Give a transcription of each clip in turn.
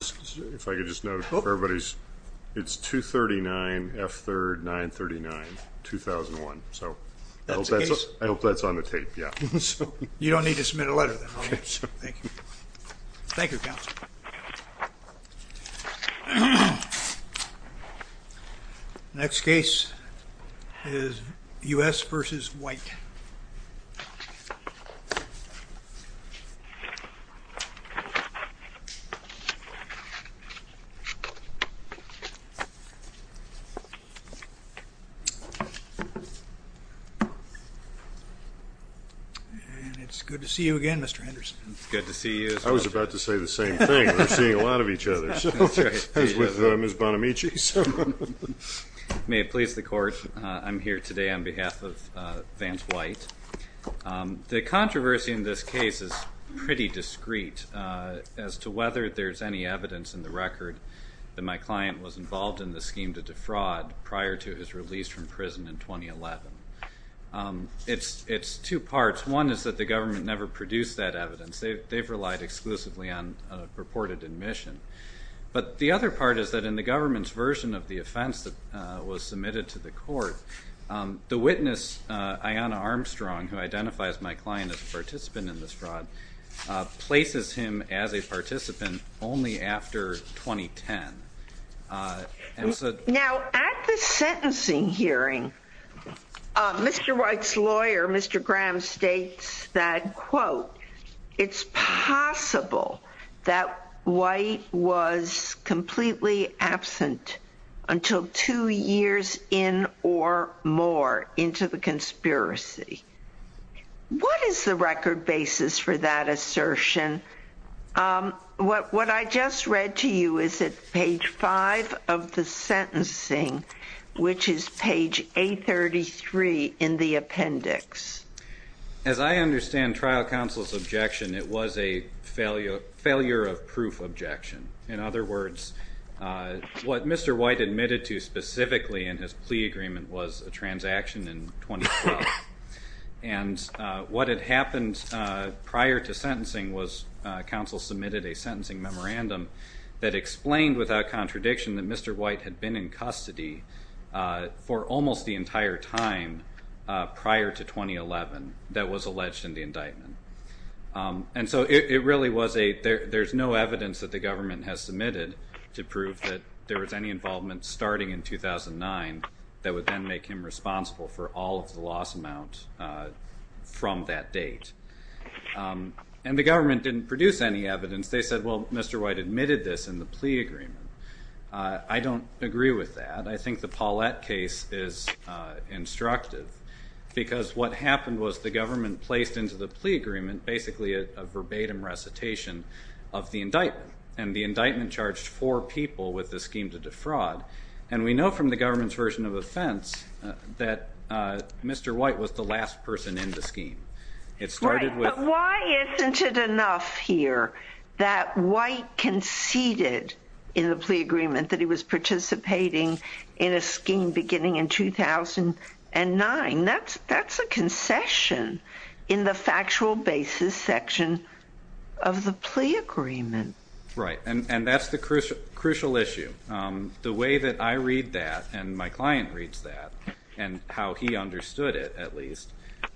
If I could just note for everybody's it's 239 F 3rd 939 2001 so that's what I hope that's on the tape yeah you don't need to submit a letter thank you next case is u.s. versus white and it's good to see you again mr. Henderson good to see you I was about to say the same thing I'm here today on behalf of Vance white the controversy in this case is pretty discreet as to whether there's any evidence in the record that my client was involved in the scheme to defraud prior to his release from prison in 2011 it's it's two parts one is that the government never produced that evidence they've they've relied exclusively on purported admission but the other part is that in the government's version of the offense that was submitted to the court the witness Ayanna Armstrong who identifies my client as a participant in this fraud places him as a participant only after 2010 and so now at the sentencing hearing mr. White's lawyer mr. Graham states that quote it's possible that white was completely absent until two years in or more into the conspiracy what is the record basis for that assertion what what I just read to you is at page five of the sentencing which is page 833 in the appendix as I understand trial counsel's objection it was a failure failure of proof objection in other words what mr. white admitted to specifically in his plea agreement was a transaction in 2012 and what had happened prior to sentencing was counsel submitted a sentencing memorandum that for almost the entire time prior to 2011 that was alleged in the indictment and so it really was a there there's no evidence that the government has submitted to prove that there was any involvement starting in 2009 that would then make him responsible for all of the loss amount from that date and the government didn't produce any evidence they said well mr. white admitted this in the plea agreement I don't agree with that I think the Paulette case is instructive because what happened was the government placed into the plea agreement basically a verbatim recitation of the indictment and the indictment charged four people with the scheme to defraud and we know from the government's version of offense that mr. white was the last person in the scheme it started with why isn't it enough here that white conceded in the plea agreement that he was participating in a scheme beginning in 2009 that's that's a concession in the factual basis section of the plea agreement right and and that's the crucial crucial issue the way that I read that and my client reads that and how he understood it at least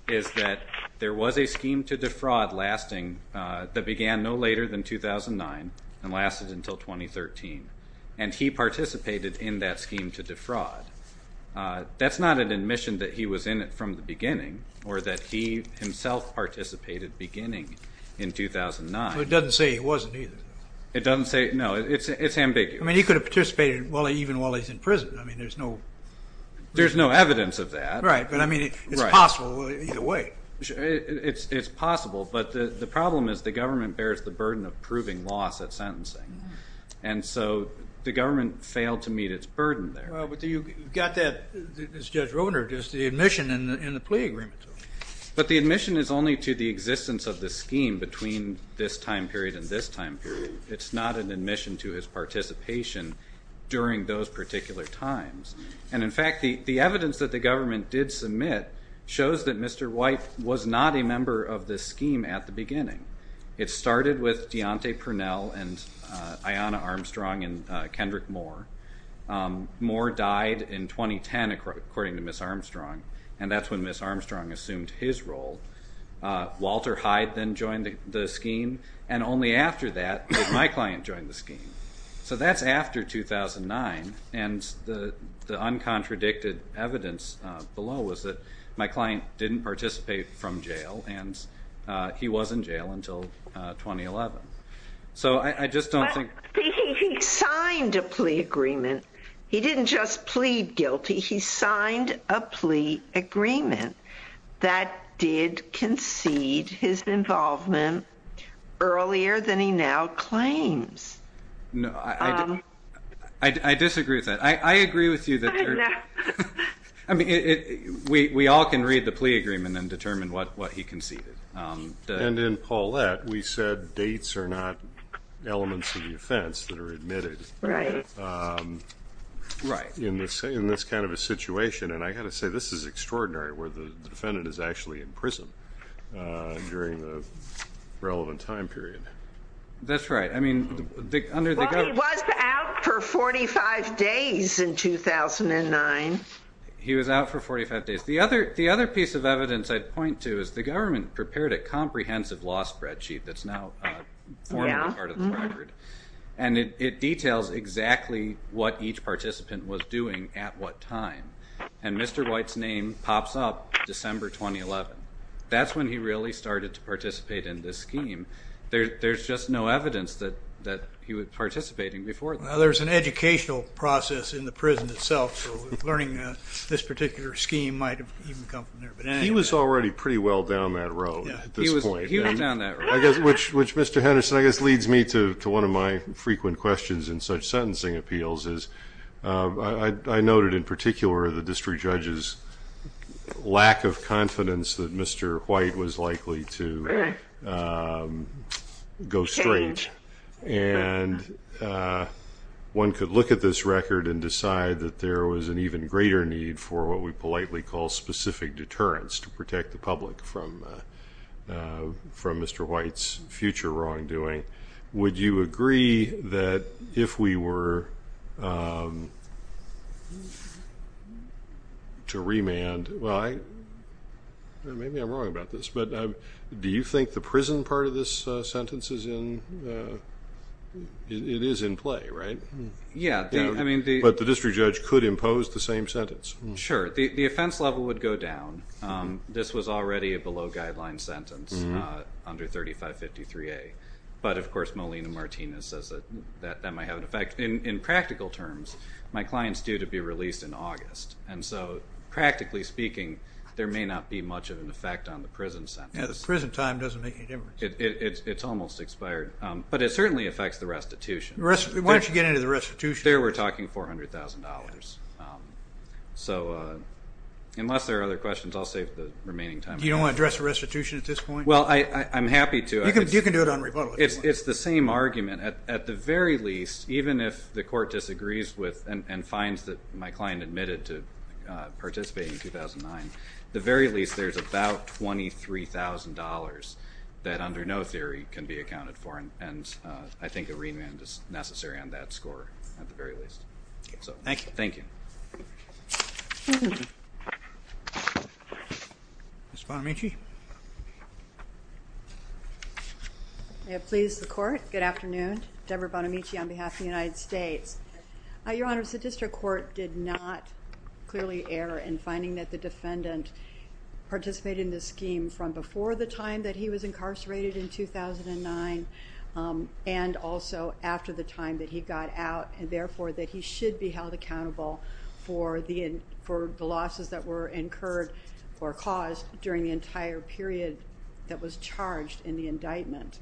is that there was a scheme to defraud lasting that began no later than 2009 and lasted until 2013 and he participated in that scheme to defraud that's not an admission that he was in it from the beginning or that he himself participated beginning in 2009 it doesn't say he wasn't either it doesn't say no it's it's ambiguous I mean he could have participated well even while he's in prison I mean there's no there's no evidence of that right but I mean it's possible either way it's it's possible but the problem is the government bears the burden of proving loss at sentencing and so the government failed to meet its burden there but you got that this judge wrote or just the admission in the plea agreement but the admission is only to the existence of the scheme between this time period in this time period it's not an admission to his participation during those particular times and in fact the the evidence that the government did submit shows that Mr. White was not a member of this scheme at the beginning it started with Deontay Purnell and Ayanna Armstrong and Kendrick Moore. Moore died in 2010 according to Ms. Armstrong and that's when Ms. Armstrong assumed his role. Walter Hyde then joined the scheme and only after that my client joined the scheme so that's after 2009 and the the uncontradicted evidence below was that my client didn't participate from jail and he was in jail until 2011 so I just don't think he signed a plea agreement he didn't just plead guilty he signed a plea agreement he did concede his involvement earlier than he now claims. No I disagree with that I agree with you that I mean it we all can read the plea agreement and determine what what he conceded. And in Paulette we said dates are not elements of the offense that are admitted. Right. In this in this kind of a situation and I got to say this is extraordinary where the defendant is actually in prison during the relevant time period. That's right I mean for 45 days in 2009. He was out for 45 days the other the other piece of evidence I'd point to is the government prepared a comprehensive law spreadsheet that's now part of the record and it details exactly what each participant was doing at what time and Mr. White's name pops up December 2011 that's when he really started to participate in this scheme there's just no evidence that that he was participating before. Now there's an educational process in the prison itself learning this particular scheme might have come from there. He was already pretty well down that road at this point. He was down that road. Which Mr. Henderson I guess leads me to one of my frequent questions in such sentencing appeals is I noted in particular the district judge's lack of confidence that Mr. White was likely to go straight and one could look at this record and decide that there was an even greater need for what we politely call specific deterrence to protect the public from Mr. White's future wrongdoing. Would you agree that if we were to remand well I maybe I'm wrong about this but do you think the prison part of this sentence is in it is in play right? Yeah I mean. But the district judge could impose the same sentence? Sure the offense level would go down this was already a below guideline sentence under 3553A but of course Molina-Martinez says that that might have an effect. In practical terms my clients due to be released in August and so practically speaking there may not be much of an effect on the prison sentence. Yeah the prison time doesn't make any difference. It's almost expired but it certainly affects the restitution. Why don't you get into the restitution. There we're talking $400,000. So unless there are other questions I'll save the remaining time. You don't want to address the restitution at this point? Well I'm happy to. You can do it on rebuttal. It's the same argument at the very least even if the court disagrees with and finds that my client admitted to participating in 2009 the very least there's about $23,000 that under no theory can be accounted for and I think a remand is necessary on that score at the very least. So thank you. Ms. Bonamici. May it please the court. Good afternoon. Deborah Bonamici on behalf of the United States. Your Honor, the district court did not clearly err in finding that the defendant participated in this scheme from before the time that he was incarcerated in 2009 and also after the time that he got out and therefore that he should be held accountable for the for the losses that were incurred or caused during the entire period that was charged in the indictment.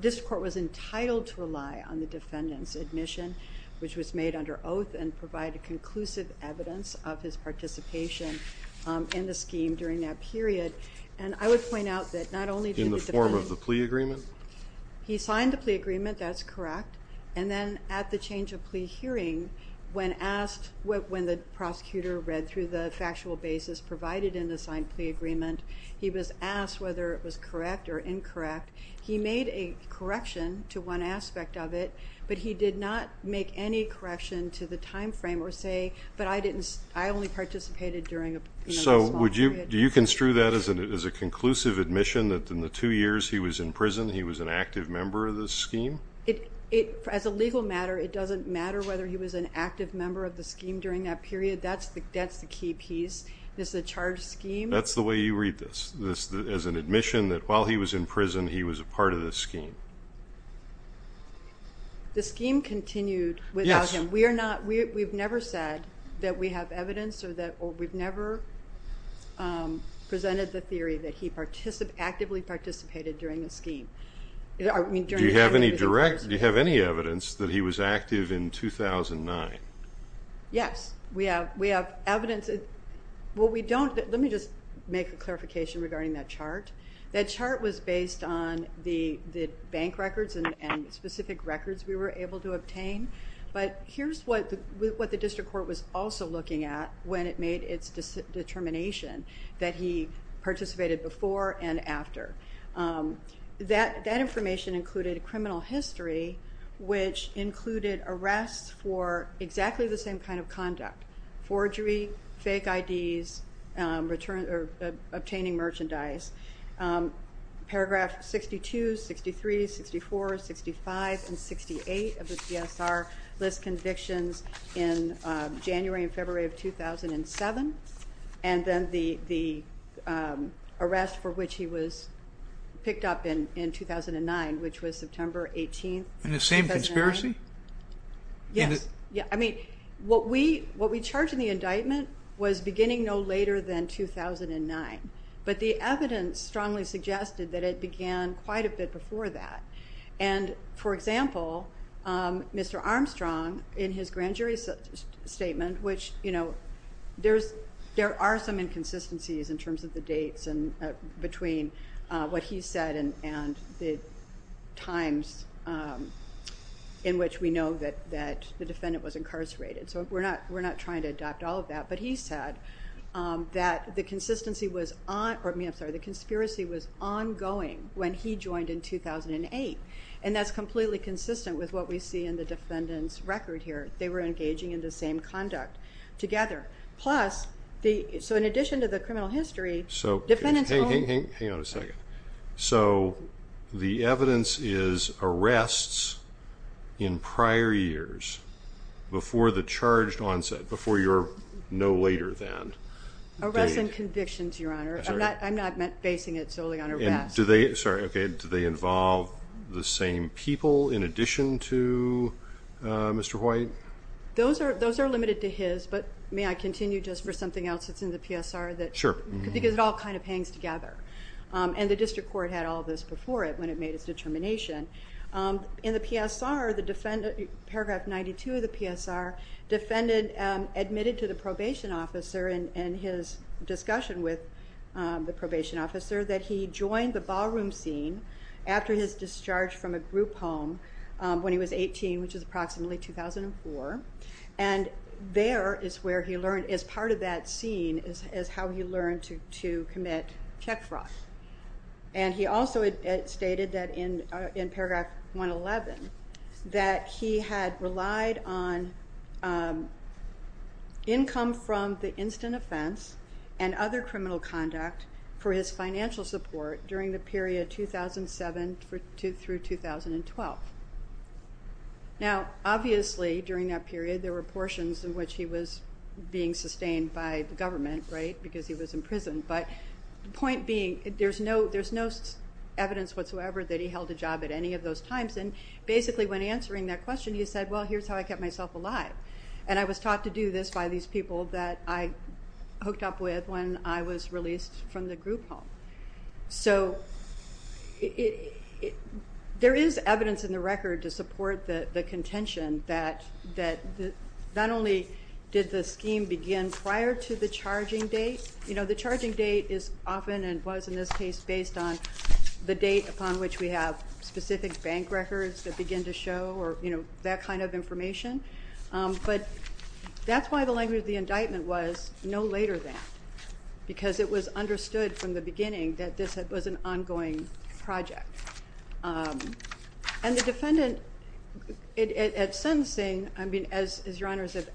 This court was entitled to rely on the defendant's admission which was made under oath and provide a conclusive evidence of his participation in the scheme during that period and I would point out that not only in the form of the plea agreement he signed the plea agreement that's correct and then at the change of plea hearing when asked what when the prosecutor read through the factual basis provided in the signed plea agreement he was asked whether it was correct or incorrect he made a correction to one aspect of it but he did not make any correction to the time frame or say but I didn't I only participated during. So would you do you construe that as an as a conclusive admission that in the two years he was in prison he was an active member of the scheme? It as a legal matter it doesn't matter whether he was an active member of the scheme during that period that's the that's the key piece this is a charged scheme. That's the way you read this this as an admission that while he was in prison he was a part of this scheme. The scheme continued without him we are not we've never said that we have evidence or that we've never presented the theory that he participated actively participated during the scheme I mean do you have any direct do you have any evidence that he was active in 2009? Yes we have we have evidence it well we don't let me just make a clarification regarding that chart that chart was based on the bank records and specific records we were able to obtain but here's what what the district court was also looking at when it made its determination that he participated before and after that that information included a criminal history which included arrests for exactly the same kind of conduct forgery fake IDs return or obtaining merchandise paragraph 62, 63, 64, 65, and 68 of the CSR list convictions in January and February of 2007 and then the the arrest for which he was picked up in in 2009 which was September 18th. In the same conspiracy? Yes yeah I mean what we what we charged in the indictment was beginning no later than 2009 but the evidence strongly suggested that it began quite a bit that and for example Mr. Armstrong in his grand jury statement which you know there's there are some inconsistencies in terms of the dates and between what he said and and the times in which we know that that the defendant was incarcerated so we're not we're not trying to adopt all of that but he said that the consistency was on or me I'm sorry the conspiracy was ongoing when he joined in 2008 and that's completely consistent with what we see in the defendant's record here they were engaging in the same conduct together plus the so in addition to the criminal history so hang on a second so the evidence is arrests in prior years before the charged onset before your no later than arresting convictions your honor I'm not I'm not meant basing it on arrest. Do they, sorry okay, do they involve the same people in addition to Mr. White? Those are those are limited to his but may I continue just for something else that's in the PSR that sure because it all kind of hangs together and the district court had all this before it when it made its determination in the PSR the defendant paragraph 92 of the PSR defendant admitted to the probation officer in his discussion with the probation officer that he joined the ballroom scene after his discharge from a group home when he was 18 which is approximately 2004 and there is where he learned as part of that scene is how he learned to commit check fraud and he also stated that in in paragraph 111 that he had relied on income from the instant offense and other criminal conduct for his financial support during the period 2007 through 2012. Now obviously during that period there were portions in which he was being sustained by the government right because he was in prison but the point being there's no there's no evidence whatsoever that he held a job at any of those times and basically when answering that question he said well here's how I kept myself alive and I was taught to do this by these people that I hooked up with when I was released from the group home so it there is evidence in the record to support the the contention that that not only did the scheme begin prior to the charging date you know the charging date is often and was in this case based on the date upon which we have specific bank records that begin to show or you know that kind of information but that's why the language of the indictment was no later than because it was understood from the beginning that this was an ongoing project and the defendant at sentencing I mean as your honors have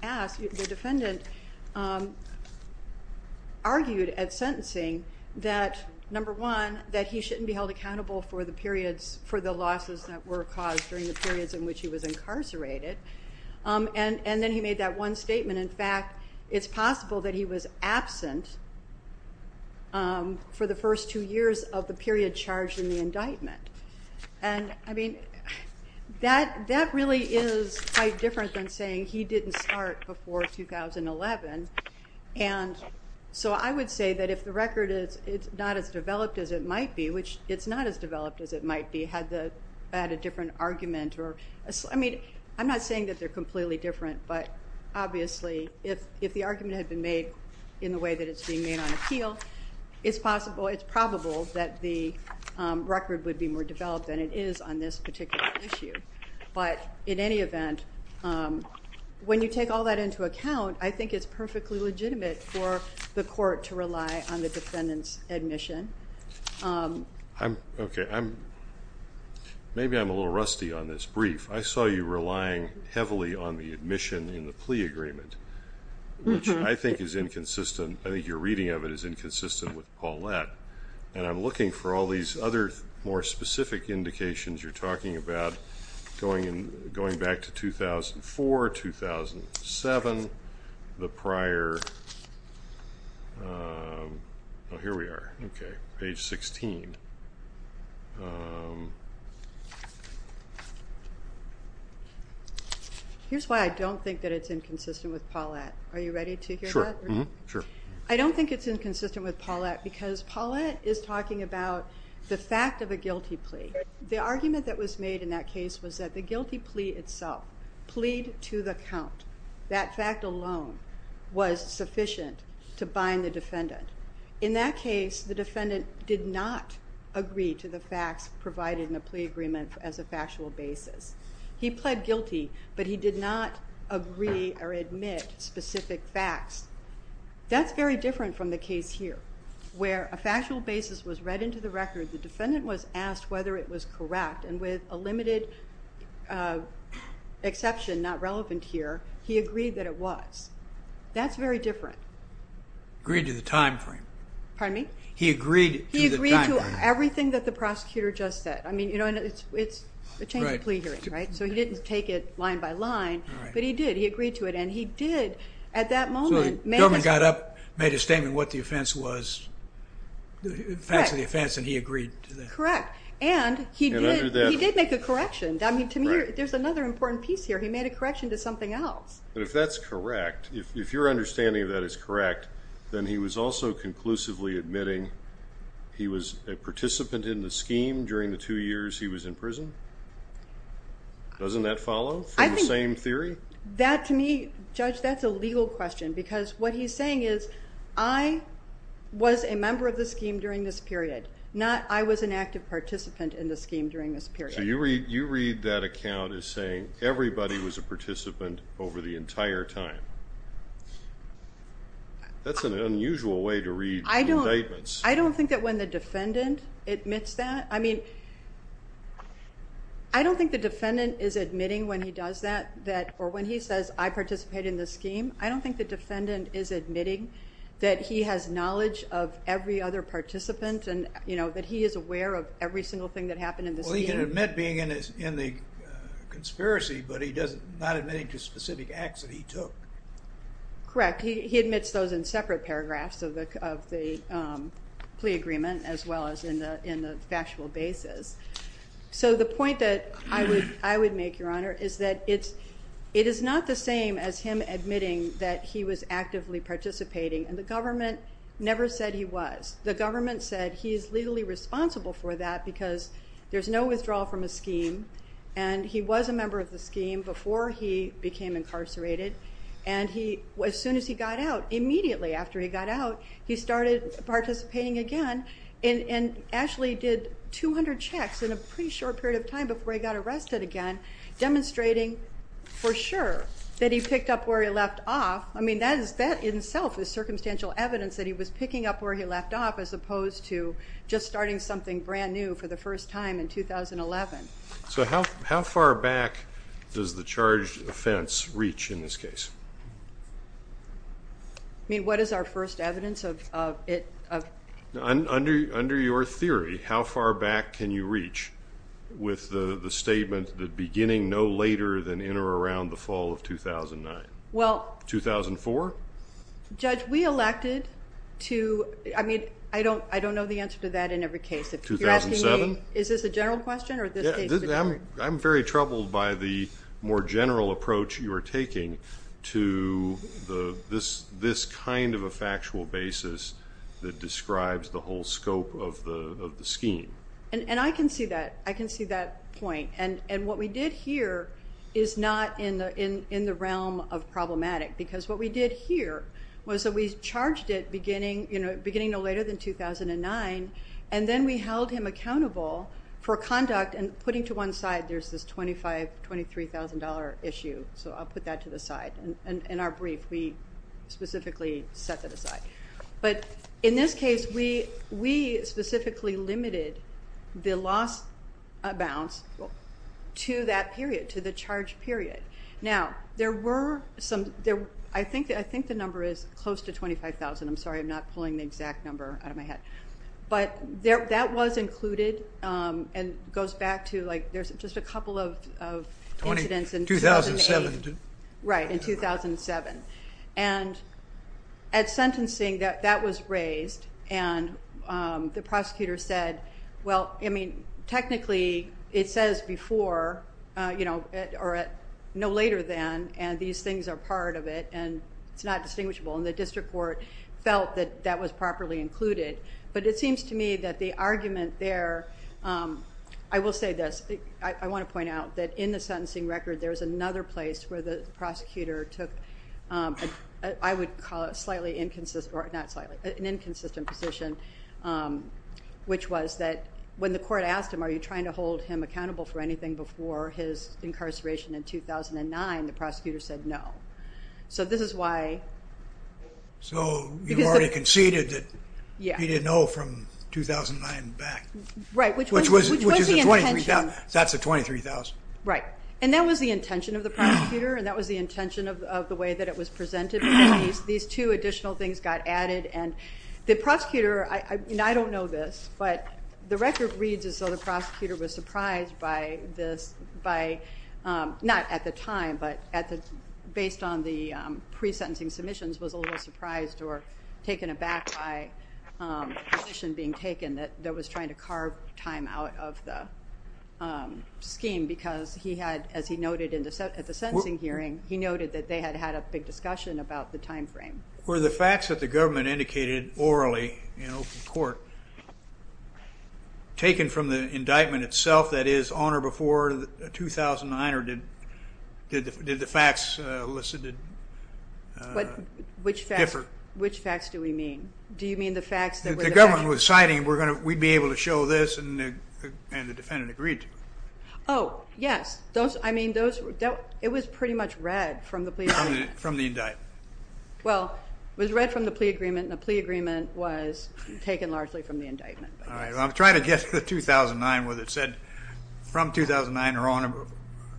argued at sentencing that number one that he shouldn't be held accountable for the periods for the losses that were caused during the periods in which he was incarcerated and and then he made that one statement in fact it's possible that he was absent for the first two years of the period charged in the indictment and I mean that that really is quite different than saying he didn't start before 2011 and so I would say that if the record is it's not as developed as it might be which it's not as developed as it might be had the had a different argument or I mean I'm not saying that they're completely different but obviously if if the argument had been made in the way that it's being made on appeal it's possible it's probable that the record would be more take all that into account I think it's perfectly legitimate for the court to rely on the defendants admission I'm okay I'm maybe I'm a little rusty on this brief I saw you relying heavily on the admission in the plea agreement which I think is inconsistent I think your reading of it is inconsistent with Paulette and I'm looking for all these other more specific indications you're seven the prior oh here we are okay page 16 here's why I don't think that it's inconsistent with Paulette are you ready to hear sure I don't think it's inconsistent with Paulette because Paulette is talking about the fact of a guilty plea the argument that was made in that case was that the guilty plea itself plead to the count that fact alone was sufficient to bind the defendant in that case the defendant did not agree to the facts provided in a plea agreement as a factual basis he pled guilty but he did not agree or admit specific facts that's very different from the case here where a factual basis was read into the record the defendant was asked whether it was correct and with a limited exception not relevant here he agreed that it was that's very different agreed to the time frame pardon me he agreed he agreed to everything that the prosecutor just said I mean you know it's it's the change of plea hearing right so he didn't take it line by line but he did he agreed to it and he did at that moment man got up made a statement what the offense was the facts of the offense and he agreed to that correct and he did make a correction I mean to me there's another important piece here he made a correction to something else but if that's correct if your understanding of that is correct then he was also conclusively admitting he was a participant in the scheme during the two years he was in prison doesn't that follow I think the same theory that to me judge that's a legal question because what he's saying is I was a member of not I was an active participant in the scheme during this period you read you read that account is saying everybody was a participant over the entire time that's an unusual way to read I don't I don't think that when the defendant admits that I mean I don't think the defendant is admitting when he does that that or when he says I participate in the scheme I don't think the defendant is admitting that he has knowledge of every other participant and you know that he is aware of every single thing that happened in this well he can admit being in his in the conspiracy but he does not admitting to specific acts that he took correct he admits those in separate paragraphs of the plea agreement as well as in the in the factual basis so the point that I would I would make your honor is that it's it is not the same as him admitting that he was actively participating and the government never said he was the government said he is legally responsible for that because there's no withdrawal from a scheme and he was a member of the scheme before he became incarcerated and he was soon as he got out immediately after he got out he started participating again and and actually did 200 checks in a pretty short period of time before he got arrested again demonstrating for sure that he that is that in itself is circumstantial evidence that he was picking up where he left off as opposed to just starting something brand new for the first time in 2011. So how how far back does the charged offense reach in this case? I mean what is our first evidence of it? Under your theory how far back can you reach with the the statement that beginning no later than in or around the fall of 2009? Well. 2004? Judge we elected to I mean I don't I don't know the answer to that in every case. 2007? Is this a general question or? I'm very troubled by the more general approach you are taking to the this this kind of a factual basis that describes the whole scope of the scheme. And and I can see that I can see that point and and what we did here is not in the in in the realm of problematic because what we did here was that we charged it beginning you know beginning no later than 2009 and then we held him accountable for conduct and putting to one side there's this twenty five twenty three thousand dollar issue so I'll put that to the side and in our brief we specifically set that aside. But in this case we we specifically limited the loss amounts to that period to the charge period. Now there were some there I think I think the number is close to 25,000 I'm sorry I'm not pulling the exact number out of my head. But there that was included and goes back to like there's just a couple of incidents in 2008. Right in 2007. And at sentencing that was raised and the prosecutor said well I mean technically it says before you know or at no later than and these things are part of it and it's not distinguishable and the district court felt that that was properly included. But it seems to me that the argument there I will say this I want to point out that in the sentencing record there's another place where the prosecutor took I would call it slightly inconsistent or not slightly an inconsistent position which was that when the court asked him are you trying to hold him accountable for anything before his incarceration in 2009 the prosecutor said no. So this is why. So you already conceded that he didn't know from 2009 back. Right which was the intention. That's a twenty three thousand. Right and that was the intention of the prosecutor and that was the intention of the way that it was presented. These two additional things got added and the prosecutor I mean I don't know this but the record reads is so the prosecutor was surprised by this by not at the time but at the based on the pre-sentencing submissions was a little surprised or taken aback by the position being taken that there was trying to carve time out of the scheme because he had as he noted in the set at the sentencing hearing he noted that they had had a big discussion about the time frame. Were the facts that the government indicated orally in open court taken from the indictment itself that is on or before 2009 or did the facts elicited differ? Which facts do we mean? Do you mean the facts that the government was citing we're going to we'd be able to show this and the mean those it was pretty much read from the plea from the indictment. Well it was read from the plea agreement and a plea agreement was taken largely from the indictment. I'm trying to guess the 2009 whether it said from 2009 or on it.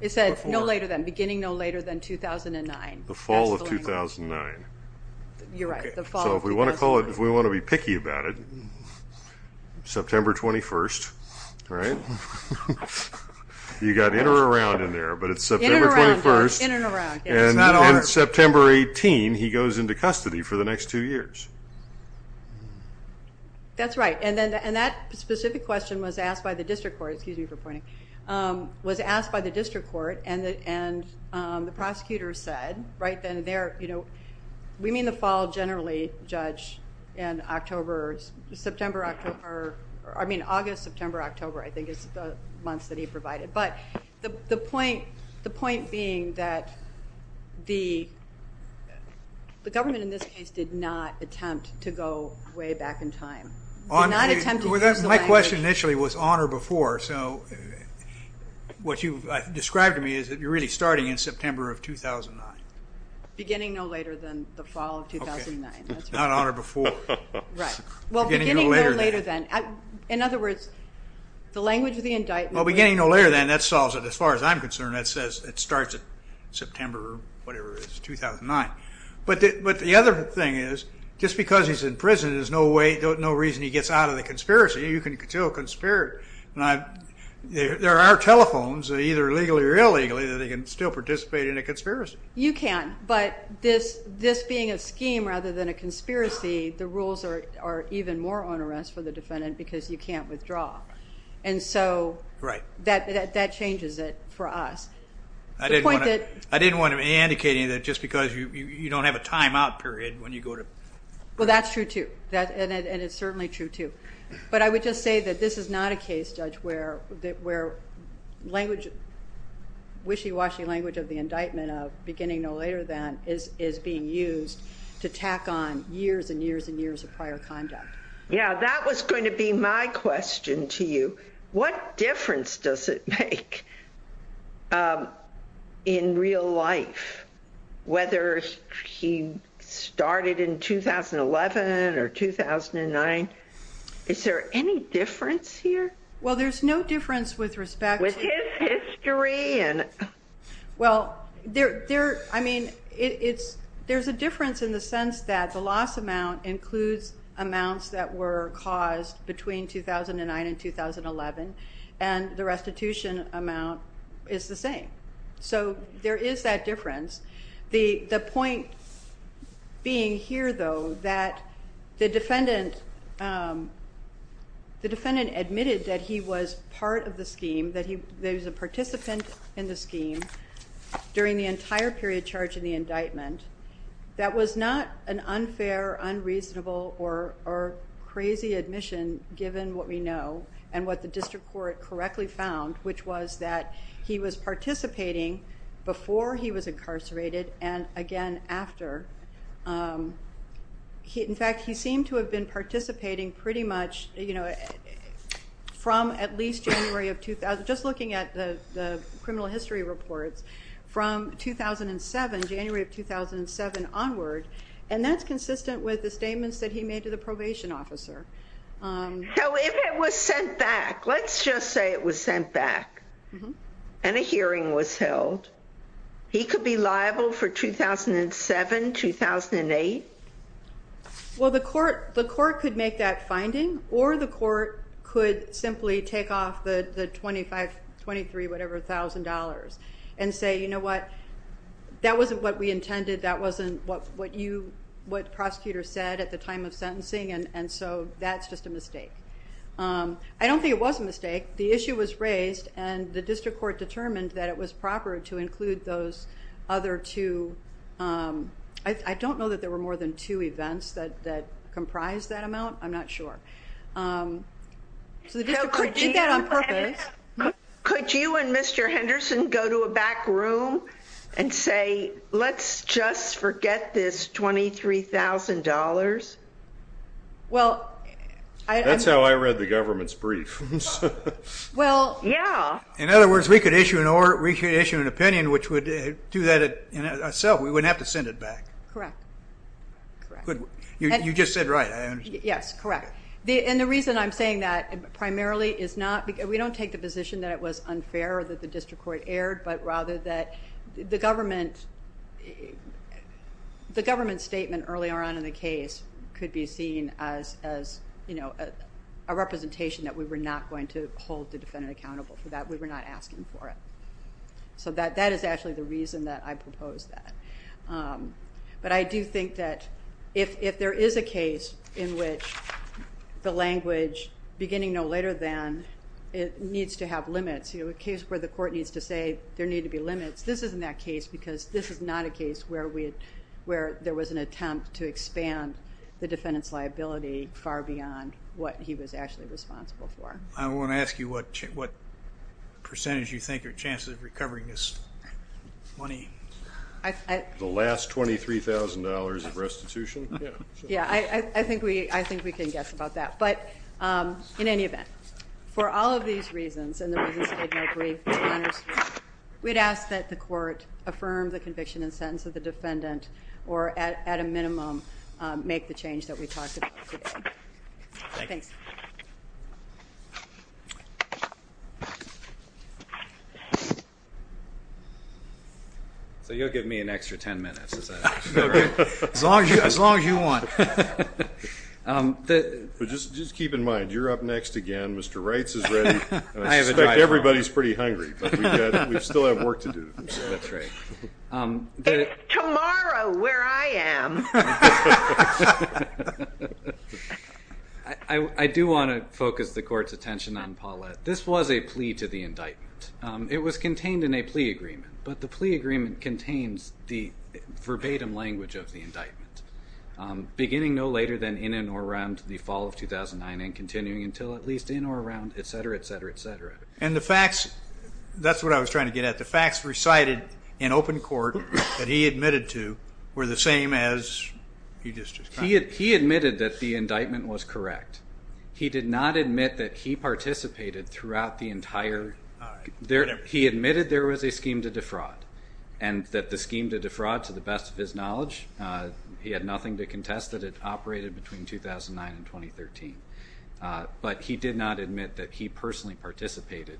It said no later than beginning no later than 2009. The fall of 2009. You're right. So if we want to call it if we want to be picky about it September 21st right you got in or around in there but it's September 21st and September 18 he goes into custody for the next two years. That's right and then and that specific question was asked by the district court excuse me for pointing was asked by the district court and and the prosecutor said right then there you know we mean the fall generally judge and October's September October I mean August September October I think is the months that he provided but the point the point being that the the government in this case did not attempt to go way back in time. My question initially was on or before so what you've described to me is that you're really starting in September of 2009. Beginning no later than the fall of 2009. Not on or before. Right. Well beginning no later than. In other words the language of the indictment. Well beginning no later than that solves it as far as I'm concerned that says it starts at September or whatever it is 2009 but but the other thing is just because he's in prison is no way no reason he gets out of the conspiracy. You can still conspire and I there are telephones either legally or illegally that he can still participate in a conspiracy. You can but this this being a scheme rather than a conspiracy the rules are even more on arrest for the defendant because you can't withdraw and so right that that that changes it for us. I didn't want to I didn't want to be indicating that just because you don't have a timeout period when you go to. Well that's true too that and it's certainly true too but I would just say that this is not a case judge where that where language wishy-washy language of the indictment of beginning no later than is is being used to tack on years and years and years of prior conduct. Yeah that was going to be my question to you. What difference does it make in real life whether he started in 2011 or 2009? Is there any difference here? Well there's no difference with respect. With his history? Well there there I mean it's there's a difference in the sense that the loss amount includes amounts that were caused between 2009 and 2011 and the restitution amount is the same. So there is that difference. The the point being here though that the defendant the part of the scheme that he there's a participant in the scheme during the entire period charge in the indictment that was not an unfair unreasonable or crazy admission given what we know and what the district court correctly found which was that he was participating before he was incarcerated and again after. In fact he seemed to have been participating pretty much you know from at least January of 2000 just looking at the criminal history reports from 2007 January of 2007 onward and that's consistent with the statements that he made to the probation officer. So if it was sent back let's just say it was sent back and a hearing was held he could be liable for 2007 2008? Well the court the simply take off the 25 23 whatever thousand dollars and say you know what that wasn't what we intended that wasn't what what you what prosecutors said at the time of sentencing and and so that's just a mistake. I don't think it was a mistake the issue was raised and the district court determined that it was proper to include those other two I don't know that there were more than two events that comprised that amount I'm not sure. Could you and Mr. Henderson go to a back room and say let's just forget this $23,000? Well that's how I read the government's brief. Well yeah. In other words we could issue an order we could issue an opinion which would do that itself we wouldn't have to send it back. Correct. You just said right. Yes correct the and the reason I'm saying that primarily is not because we don't take the position that it was unfair that the district court erred but rather that the government the government statement earlier on in the case could be seen as as you know a representation that we were not going to hold the defendant accountable for that we were not asking for it so that that is actually the reason that I proposed that but I do think that if there is a case in which the language beginning no later than it needs to have limits you know a case where the court needs to say there need to be limits this isn't that case because this is not a case where we where there was an attempt to expand the defendant's liability far beyond what he was actually responsible for. I want to ask you what what percentage you think your chances of recovering this money? The last $23,000 of restitution? Yeah I think we I think we can guess about that but in any event for all of these reasons and the reasons I'd make brief, we'd ask that the court affirm the conviction and sentence of the defendant or at a minimum make the change that we So you'll give me an extra 10 minutes. As long as you want. Just keep in mind you're up next again Mr. Reitz is ready everybody's pretty hungry we still want to focus the court's attention on Paulette this was a plea to the indictment it was contained in a plea agreement but the plea agreement contains the verbatim language of the indictment beginning no later than in and or around the fall of 2009 and continuing until at least in or around etc etc etc and the facts that's what I was trying to get at the facts recited in open court that he admitted to were the same as he just he admitted that the did not admit that he participated throughout the entire there he admitted there was a scheme to defraud and that the scheme to defraud to the best of his knowledge he had nothing to contest that it operated between 2009 and 2013 but he did not admit that he personally participated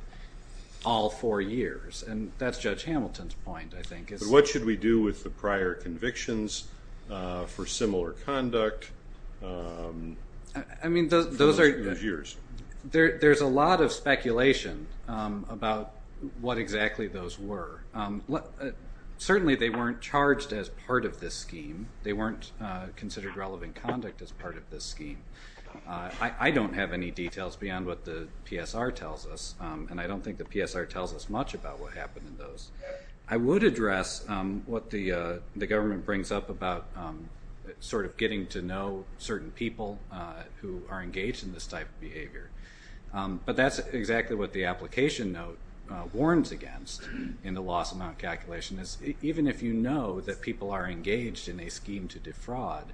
all four years and that's Judge Hamilton's point I think is what should we do with the prior convictions for similar conduct I mean those are yours there there's a lot of speculation about what exactly those were what certainly they weren't charged as part of this scheme they weren't considered relevant conduct as part of this scheme I don't have any details beyond what the PSR tells us and I don't think the PSR tells us much about what happened in those I would address what the the brings up about sort of getting to know certain people who are engaged in this type of behavior but that's exactly what the application note warns against in the loss amount calculation is even if you know that people are engaged in a scheme to defraud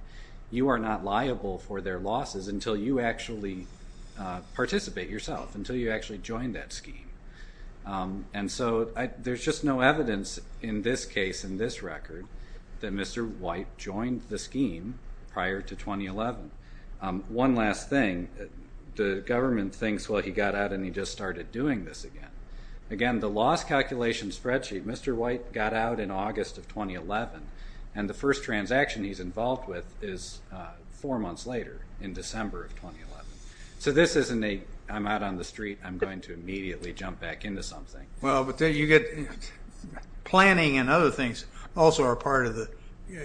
you are not liable for their losses until you actually participate yourself until you actually join that scheme and so there's just no record that Mr. White joined the scheme prior to 2011 one last thing the government thinks what he got out and he just started doing this again again the loss calculation spreadsheet Mr. White got out in August of 2011 and the first transaction he's involved with is four months later in December of 2011 so this isn't a I'm out on the street I'm going to immediately jump back into something well but then you get planning and other things also are part of the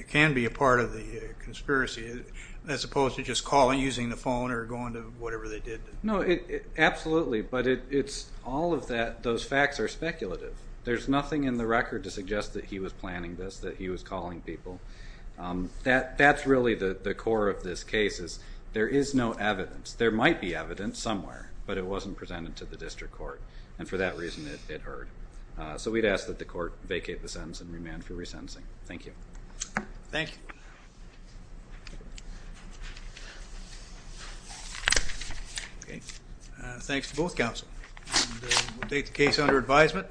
can be a part of the conspiracy as opposed to just calling using the phone or going to whatever they did no it absolutely but it's all of that those facts are speculative there's nothing in the record to suggest that he was planning this that he was calling people that that's really the core of this case is there is no evidence there might be evidence somewhere but it wasn't presented to the district court and for that reason it hurt so we'd ask that the court vacate the sentence and remand for resentencing thank you thank thanks to both counsel the case under advisement